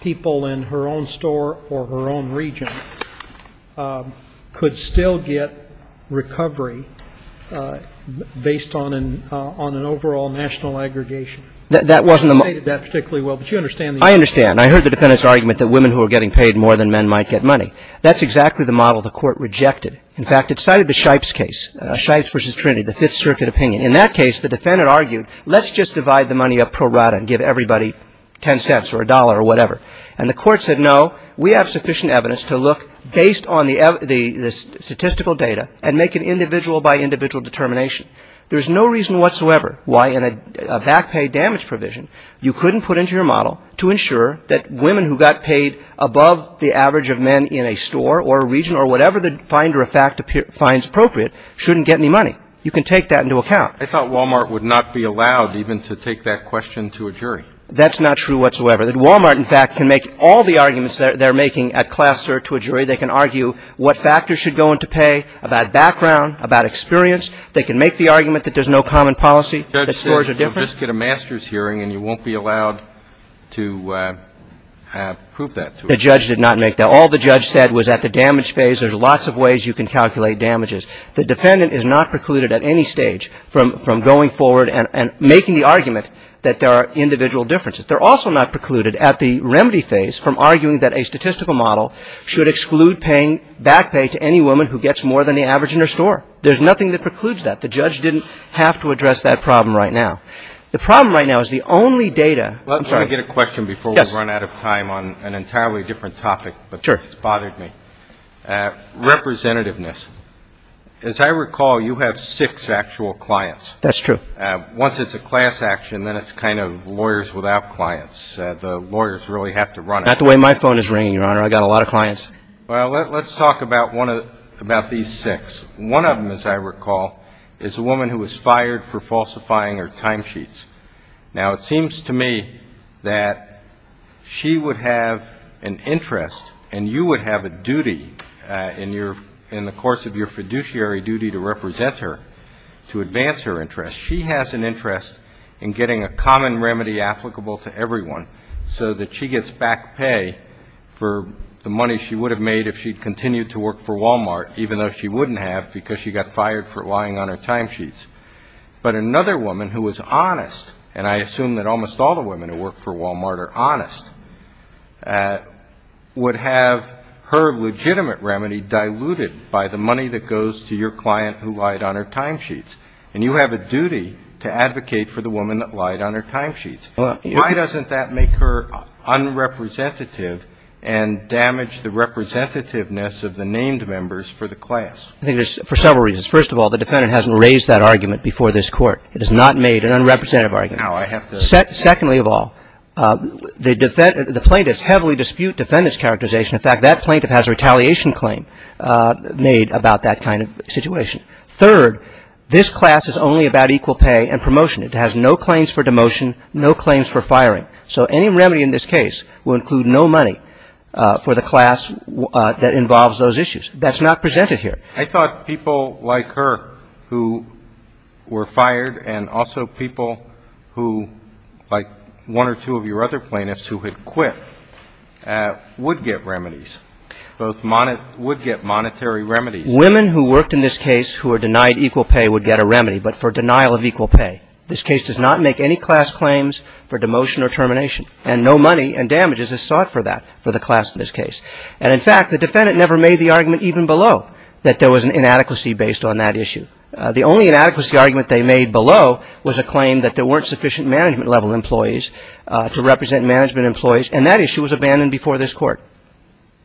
people in her own store or her own region could still get recovery based on an overall national aggregation. She stated that particularly well, but you understand the argument. Roberts. I understand. I heard the defendant's argument that women who are getting paid more than men might get money. That's exactly the model the Court rejected. In fact, it cited the Shipes case, Shipes v. Trinity, the Fifth Circuit opinion. In that case, the defendant argued let's just divide the money up pro rata and give everybody ten cents or a dollar or whatever. And the Court said no, we have sufficient evidence to look based on the statistical data and make an individual by individual determination. There's no reason whatsoever why in a back pay damage provision you couldn't put into your model to ensure that women who got paid above the average of men in a store or a region or whatever the finder of fact finds appropriate shouldn't get any money. You can take that into account. I thought Walmart would not be allowed even to take that question to a jury. That's not true whatsoever. Walmart, in fact, can make all the arguments they're making at class search to a jury. They can argue what factors should go into pay, about background, about experience. They can make the argument that there's no common policy, that stores are different. The judge said you'll just get a master's hearing and you won't be allowed to prove that to us. The judge did not make that. All the judge said was at the damage phase there's lots of ways you can calculate The defendant is not precluded at any stage from going forward and making the argument that there are individual differences. They're also not precluded at the remedy phase from arguing that a statistical model should exclude paying back pay to any woman who gets more than the average in her store. There's nothing that precludes that. The judge didn't have to address that problem right now. The problem right now is the only data. I'm sorry. Let me get a question before we run out of time on an entirely different topic. Sure. But it's bothered me. Representativeness. As I recall, you have six actual clients. That's true. Once it's a class action, then it's kind of lawyers without clients. The lawyers really have to run it. Not the way my phone is ringing, Your Honor. I've got a lot of clients. Well, let's talk about these six. One of them, as I recall, is a woman who was fired for falsifying her timesheets. Now, it seems to me that she would have an interest, and you would have a duty in the course of your fiduciary duty to represent her, to advance her interest. She has an interest in getting a common remedy applicable to everyone so that she gets back pay for the money she would have made if she'd continued to work for Walmart, even though she wouldn't have because she got fired for lying on her timesheets. But another woman who was honest, and I assume that almost all the women who work for Walmart are honest, would have her legitimate remedy diluted by the money that goes to your client who lied on her timesheets. And you have a duty to advocate for the woman that lied on her timesheets. Why doesn't that make her unrepresentative and damage the representativeness of the named members for the class? I think there's several reasons. First of all, the defendant hasn't raised that argument before this Court. It has not made an unrepresentative argument. Secondly of all, the plaintiffs heavily dispute defendant's characterization. In fact, that plaintiff has a retaliation claim made about that kind of situation. Third, this class is only about equal pay and promotion. It has no claims for demotion, no claims for firing. So any remedy in this case will include no money for the class that involves those issues. That's not presented here. I thought people like her who were fired and also people who, like one or two of your other plaintiffs who had quit, would get remedies. Both would get monetary remedies. Women who worked in this case who were denied equal pay would get a remedy, but for denial of equal pay. This case does not make any class claims for demotion or termination, and no money and damages is sought for that for the class in this case. And in fact, the defendant never made the argument even below that there was an inadequacy based on that issue. The only inadequacy argument they made below was a claim that there weren't sufficient management-level employees to represent management employees, and that issue was abandoned before this Court.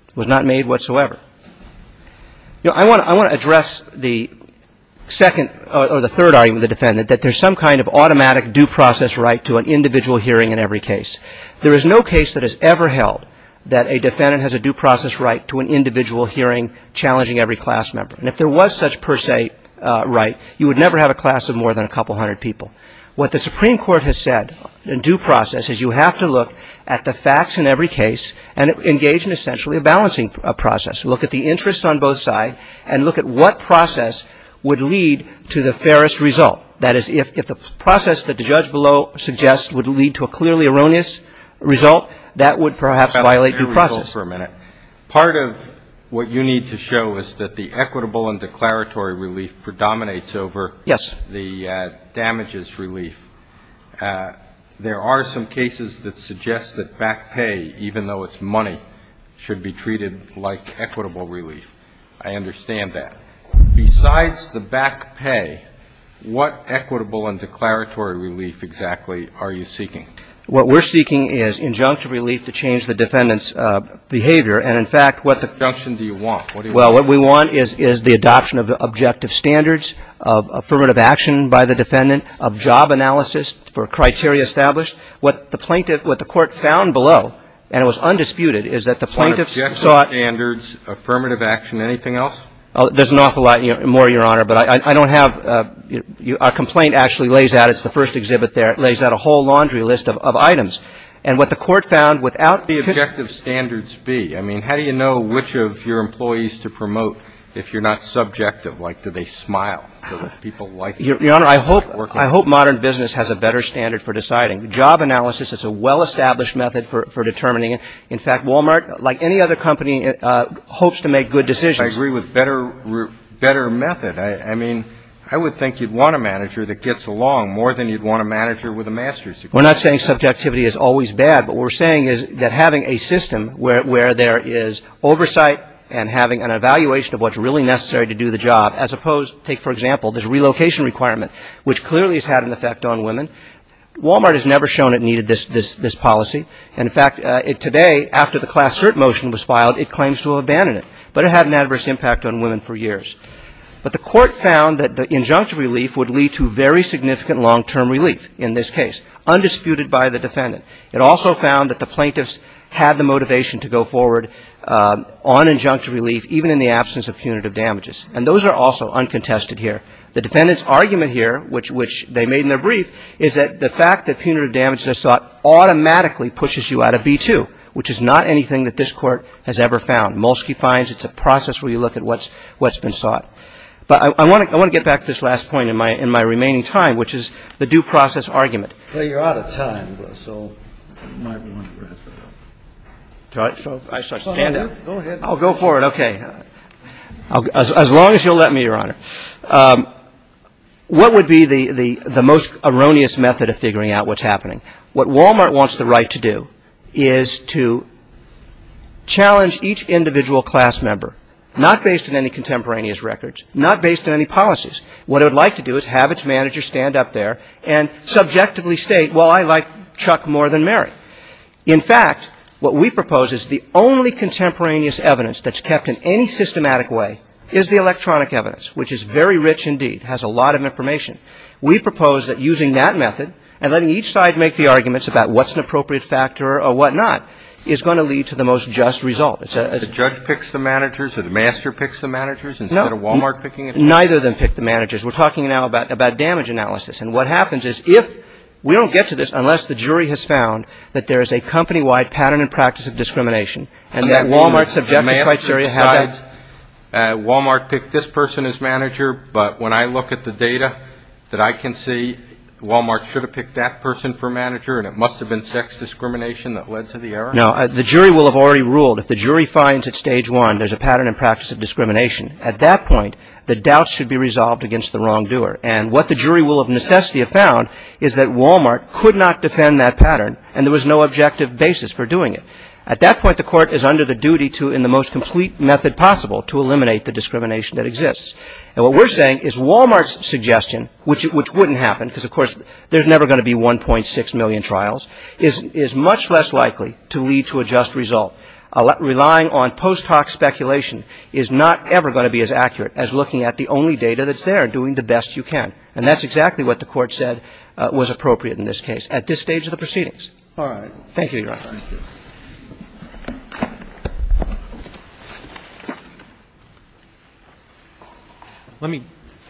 It was not made whatsoever. You know, I want to address the second or the third argument of the defendant, that there's some kind of automatic due process right to an individual hearing in every case. There is no case that is ever held that a defendant has a due process right to an individual hearing challenging every class member. And if there was such per se right, you would never have a class of more than a couple hundred people. What the Supreme Court has said in due process is you have to look at the facts in every case and engage in essentially a balancing process. Look at the interest on both sides and look at what process would lead to the fairest result. That is, if the process that the judge below suggests would lead to a clearly erroneous result, that would perhaps violate due process. Alito, for a minute. Part of what you need to show is that the equitable and declaratory relief predominates over the damages relief. Yes. There are some cases that suggest that back pay, even though it's money, should be treated like equitable relief. I understand that. Besides the back pay, what equitable and declaratory relief exactly are you seeking? What we're seeking is injunctive relief to change the defendant's behavior. And, in fact, what the ---- What injunction do you want? What do you want? Well, what we want is the adoption of the objective standards, of affirmative action by the defendant, of job analysis for criteria established. What the plaintiff, what the Court found below, and it was undisputed, is that the plaintiffs sought ---- Objective standards, affirmative action, anything else? There's an awful lot more, Your Honor, but I don't have a complaint actually lays out. It's the first exhibit there. It lays out a whole laundry list of items. And what the Court found without ---- What would the objective standards be? I mean, how do you know which of your employees to promote if you're not subjective? Like, do they smile? Do people like it? Your Honor, I hope modern business has a better standard for deciding. Job analysis is a well-established method for determining it. In fact, Walmart, like any other company, hopes to make good decisions. But I agree with better method. I mean, I would think you'd want a manager that gets along more than you'd want a manager with a master's degree. We're not saying subjectivity is always bad. What we're saying is that having a system where there is oversight and having an evaluation of what's really necessary to do the job, as opposed to, take for example, this relocation requirement, which clearly has had an effect on women, Walmart has never shown it needed this policy. And in fact, today, after the Class Cert motion was filed, it claims to have abandoned it. But it had an adverse impact on women for years. But the Court found that the injunctive relief would lead to very significant long-term relief in this case, undisputed by the defendant. It also found that the plaintiffs had the motivation to go forward on injunctive relief, even in the absence of punitive damages. And those are also uncontested here. The defendant's argument here, which they made in their brief, is that the fact that Walmart automatically pushes you out of B-2, which is not anything that this Court has ever found. Molsky finds it's a process where you look at what's been sought. But I want to get back to this last point in my remaining time, which is the due process argument. Well, you're out of time, so you might want to wrap it up. Do I start standing? Go ahead. I'll go for it. Okay. As long as you'll let me, Your Honor. What would be the most erroneous method of figuring out what's happening? What Walmart wants the right to do is to challenge each individual class member, not based on any contemporaneous records, not based on any policies. What it would like to do is have its manager stand up there and subjectively state, well, I like Chuck more than Mary. In fact, what we propose is the only contemporaneous evidence that's kept in any systematic way is the electronic evidence, which is very rich indeed, has a lot of information. We propose that using that method and letting each side make the arguments about what's an appropriate factor or whatnot is going to lead to the most just result. The judge picks the managers or the master picks the managers instead of Walmart picking it? No. Neither of them pick the managers. We're talking now about damage analysis. And what happens is if we don't get to this unless the jury has found that there is a company-wide pattern and practice of discrimination and that Walmart's subjective criteria have that. Walmart picked this person as manager, but when I look at the data that I can see, Walmart should have picked that person for manager and it must have been sex discrimination that led to the error? No. The jury will have already ruled if the jury finds at Stage 1 there's a pattern and practice of discrimination. At that point, the doubt should be resolved against the wrongdoer. And what the jury will of necessity have found is that Walmart could not defend that pattern and there was no objective basis for doing it. At that point, the court is under the duty to, in the most complete method possible, to eliminate the discrimination that exists. And what we're saying is Walmart's suggestion, which wouldn't happen because, of course, there's never going to be 1.6 million trials, is much less likely to lead to a just result. Relying on post hoc speculation is not ever going to be as accurate as looking at the only data that's there, doing the best you can. And that's exactly what the court said was appropriate in this case at this stage of the proceedings. All right. Thank you, Your Honor. Let me,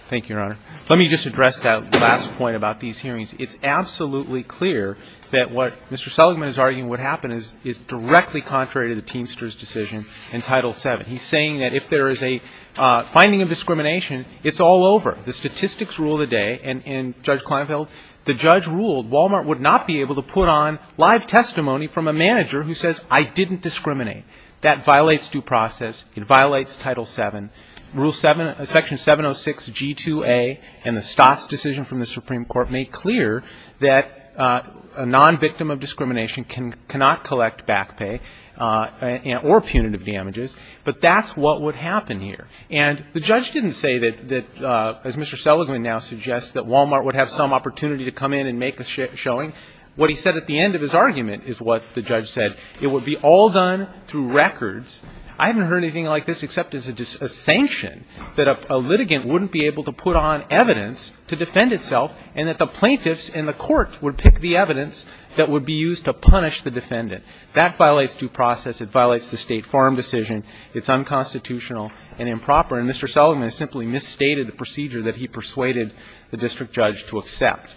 thank you, Your Honor. Let me just address that last point about these hearings. It's absolutely clear that what Mr. Seligman is arguing what happened is directly contrary to the Teamster's decision in Title VII. He's saying that if there is a finding of discrimination, it's all over. The statistics rule today, and Judge Kleinfeld, the judge ruled Walmart would not be able to put on live testimony from a manager who says, I didn't discriminate. That violates due process. It violates Title VII. Rule 7, Section 706G2A in the Stott's decision from the Supreme Court made clear that a non-victim of discrimination cannot collect back pay or punitive damages. But that's what would happen here. And the judge didn't say that, as Mr. Seligman now suggests, that Walmart would have some opportunity to come in and make a showing. What he said at the end of his argument is what the judge said. It would be all done through records. I haven't heard anything like this except as a sanction that a litigant wouldn't be able to put on evidence to defend itself and that the plaintiffs and the court would pick the evidence that would be used to punish the defendant. That violates due process. It violates the State Farm decision. It's unconstitutional and improper. And Mr. Seligman simply misstated the procedure that he persuaded the district judge to accept.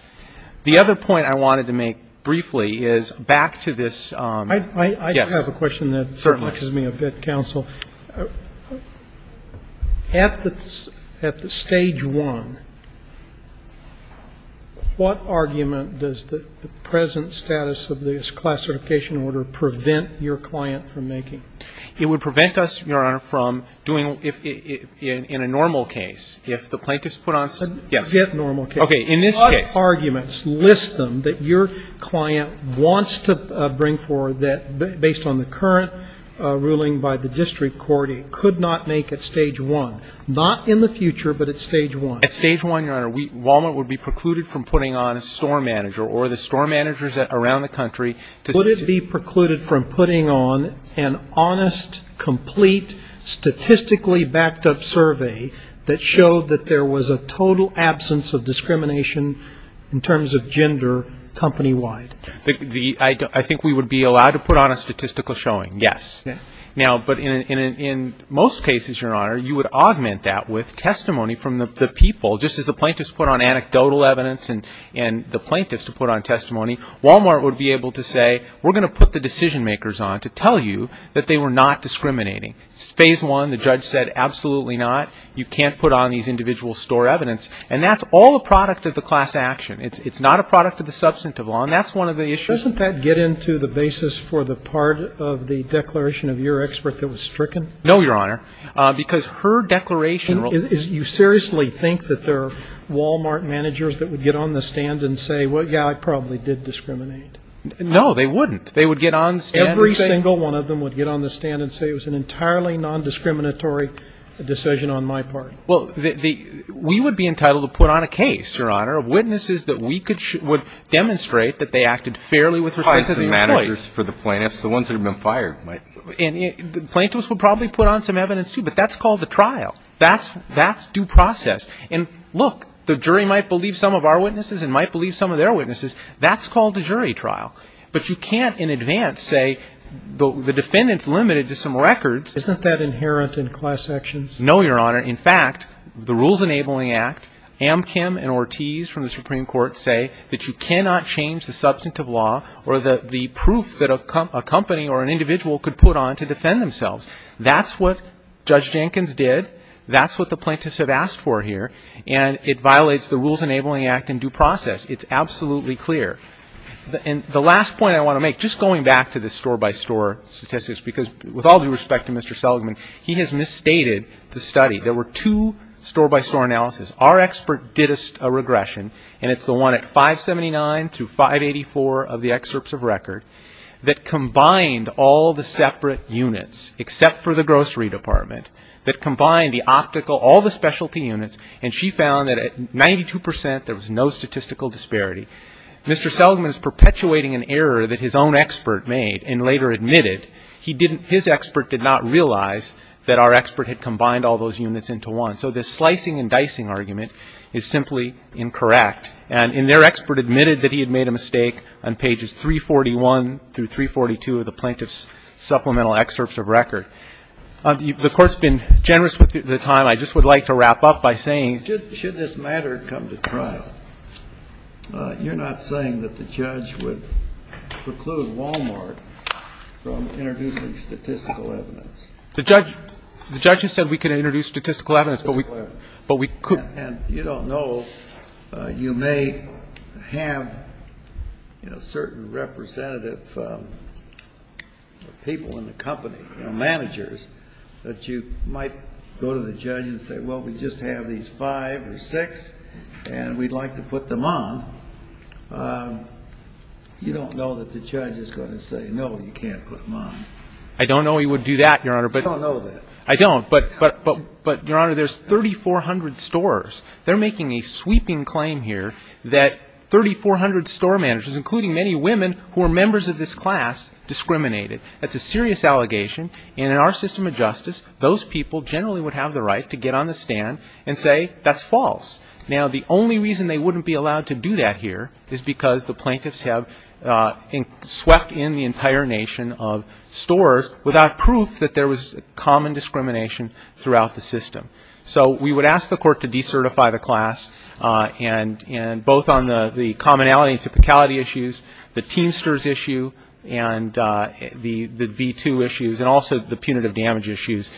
The other point I wanted to make briefly is back to this. Yes. Certainly. I have a question that confuses me a bit, counsel. At the Stage 1, what argument does the present status of this classification order prevent your client from making? It would prevent us, Your Honor, from doing, in a normal case, if the plaintiffs put on, yes. Get normal case. Okay. In this case. A lot of arguments list them that your client wants to bring forward that, based on the current ruling by the district court, it could not make at Stage 1. Not in the future, but at Stage 1. At Stage 1, Your Honor, Walmart would be precluded from putting on a store manager or the store managers around the country. Would it be precluded from putting on an honest, complete, statistically backed-up survey that showed that there was a total absence of discrimination in terms of gender, company-wide? I think we would be allowed to put on a statistical showing, yes. Now, but in most cases, Your Honor, you would augment that with testimony from the people. Just as the plaintiffs put on anecdotal evidence and the plaintiffs to put on the decision-makers on to tell you that they were not discriminating. Phase 1, the judge said, absolutely not. You can't put on these individual store evidence. And that's all a product of the class action. It's not a product of the substantive law. And that's one of the issues. Doesn't that get into the basis for the part of the declaration of your expert that was stricken? No, Your Honor. Because her declaration. You seriously think that there are Walmart managers that would get on the stand and say, well, yeah, I probably did discriminate? No, they wouldn't. They would get on the stand and say. Every single one of them would get on the stand and say, it was an entirely nondiscriminatory decision on my part. Well, we would be entitled to put on a case, Your Honor, of witnesses that we could demonstrate that they acted fairly with respect to their choice. The plaintiffs, the ones that have been fired. And the plaintiffs would probably put on some evidence, too. But that's called a trial. That's due process. And look, the jury might believe some of our witnesses and might believe some of their witnesses. That's called a jury trial. But you can't in advance say the defendant's limited to some records. Isn't that inherent in class actions? No, Your Honor. In fact, the Rules Enabling Act, Amchem and Ortiz from the Supreme Court say that you cannot change the substantive law or the proof that a company or an individual could put on to defend themselves. That's what Judge Jenkins did. That's what the plaintiffs have asked for here. And it violates the Rules Enabling Act in due process. It's absolutely clear. And the last point I want to make, just going back to the store-by-store statistics, because with all due respect to Mr. Seligman, he has misstated the study. There were two store-by-store analyses. Our expert did a regression, and it's the one at 579 through 584 of the excerpts of record that combined all the separate units, except for the grocery department, that combined the optical, all the specialty units. And she found that at 92 percent, there was no statistical disparity. Mr. Seligman is perpetuating an error that his own expert made and later admitted his expert did not realize that our expert had combined all those units into one. So this slicing and dicing argument is simply incorrect, and their expert admitted that he had made a mistake on pages 341 through 342 of the plaintiff's supplemental excerpts of record. The Court's been generous with the time. I just would like to wrap up by saying that should this matter come to trial, you're not saying that the judge would preclude Walmart from introducing statistical evidence. The judge has said we can introduce statistical evidence, but we could. And you don't know. You may have, you know, certain representative people in the company, you know, managers that you might go to the judge and say, well, we just have these five or six and we'd like to put them on. You don't know that the judge is going to say, no, you can't put them on. I don't know he would do that, Your Honor. I don't know that. I don't. But, Your Honor, there's 3,400 stores. They're making a sweeping claim here that 3,400 store managers, including many women who are members of this class, discriminate. That's a serious allegation. And in our system of justice, those people generally would have the right to get on the stand and say that's false. Now, the only reason they wouldn't be allowed to do that here is because the plaintiffs have swept in the entire nation of stores without proof that there was common discrimination throughout the system. So we would ask the Court to decertify the class, and both on the commonality issues, the Teamsters issue, and the B2 issues, and also the punitive damage issues.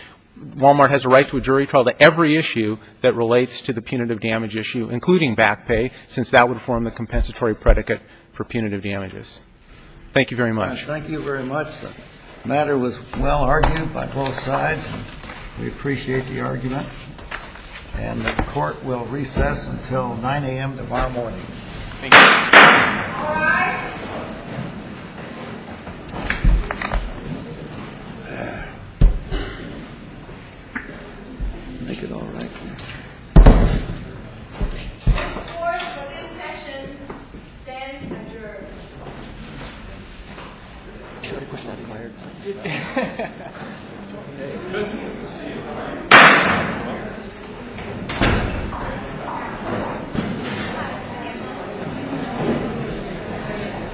Walmart has a right to a jury trial to every issue that relates to the punitive damage issue, including back pay, since that would form the compensatory predicate for punitive damages. Thank you very much. Thank you very much. The matter was well argued by both sides. We appreciate the argument. And the Court will recess until 9 a.m. tomorrow morning. Thank you. All rise. Make it all right here. The Court for this session stands adjourned.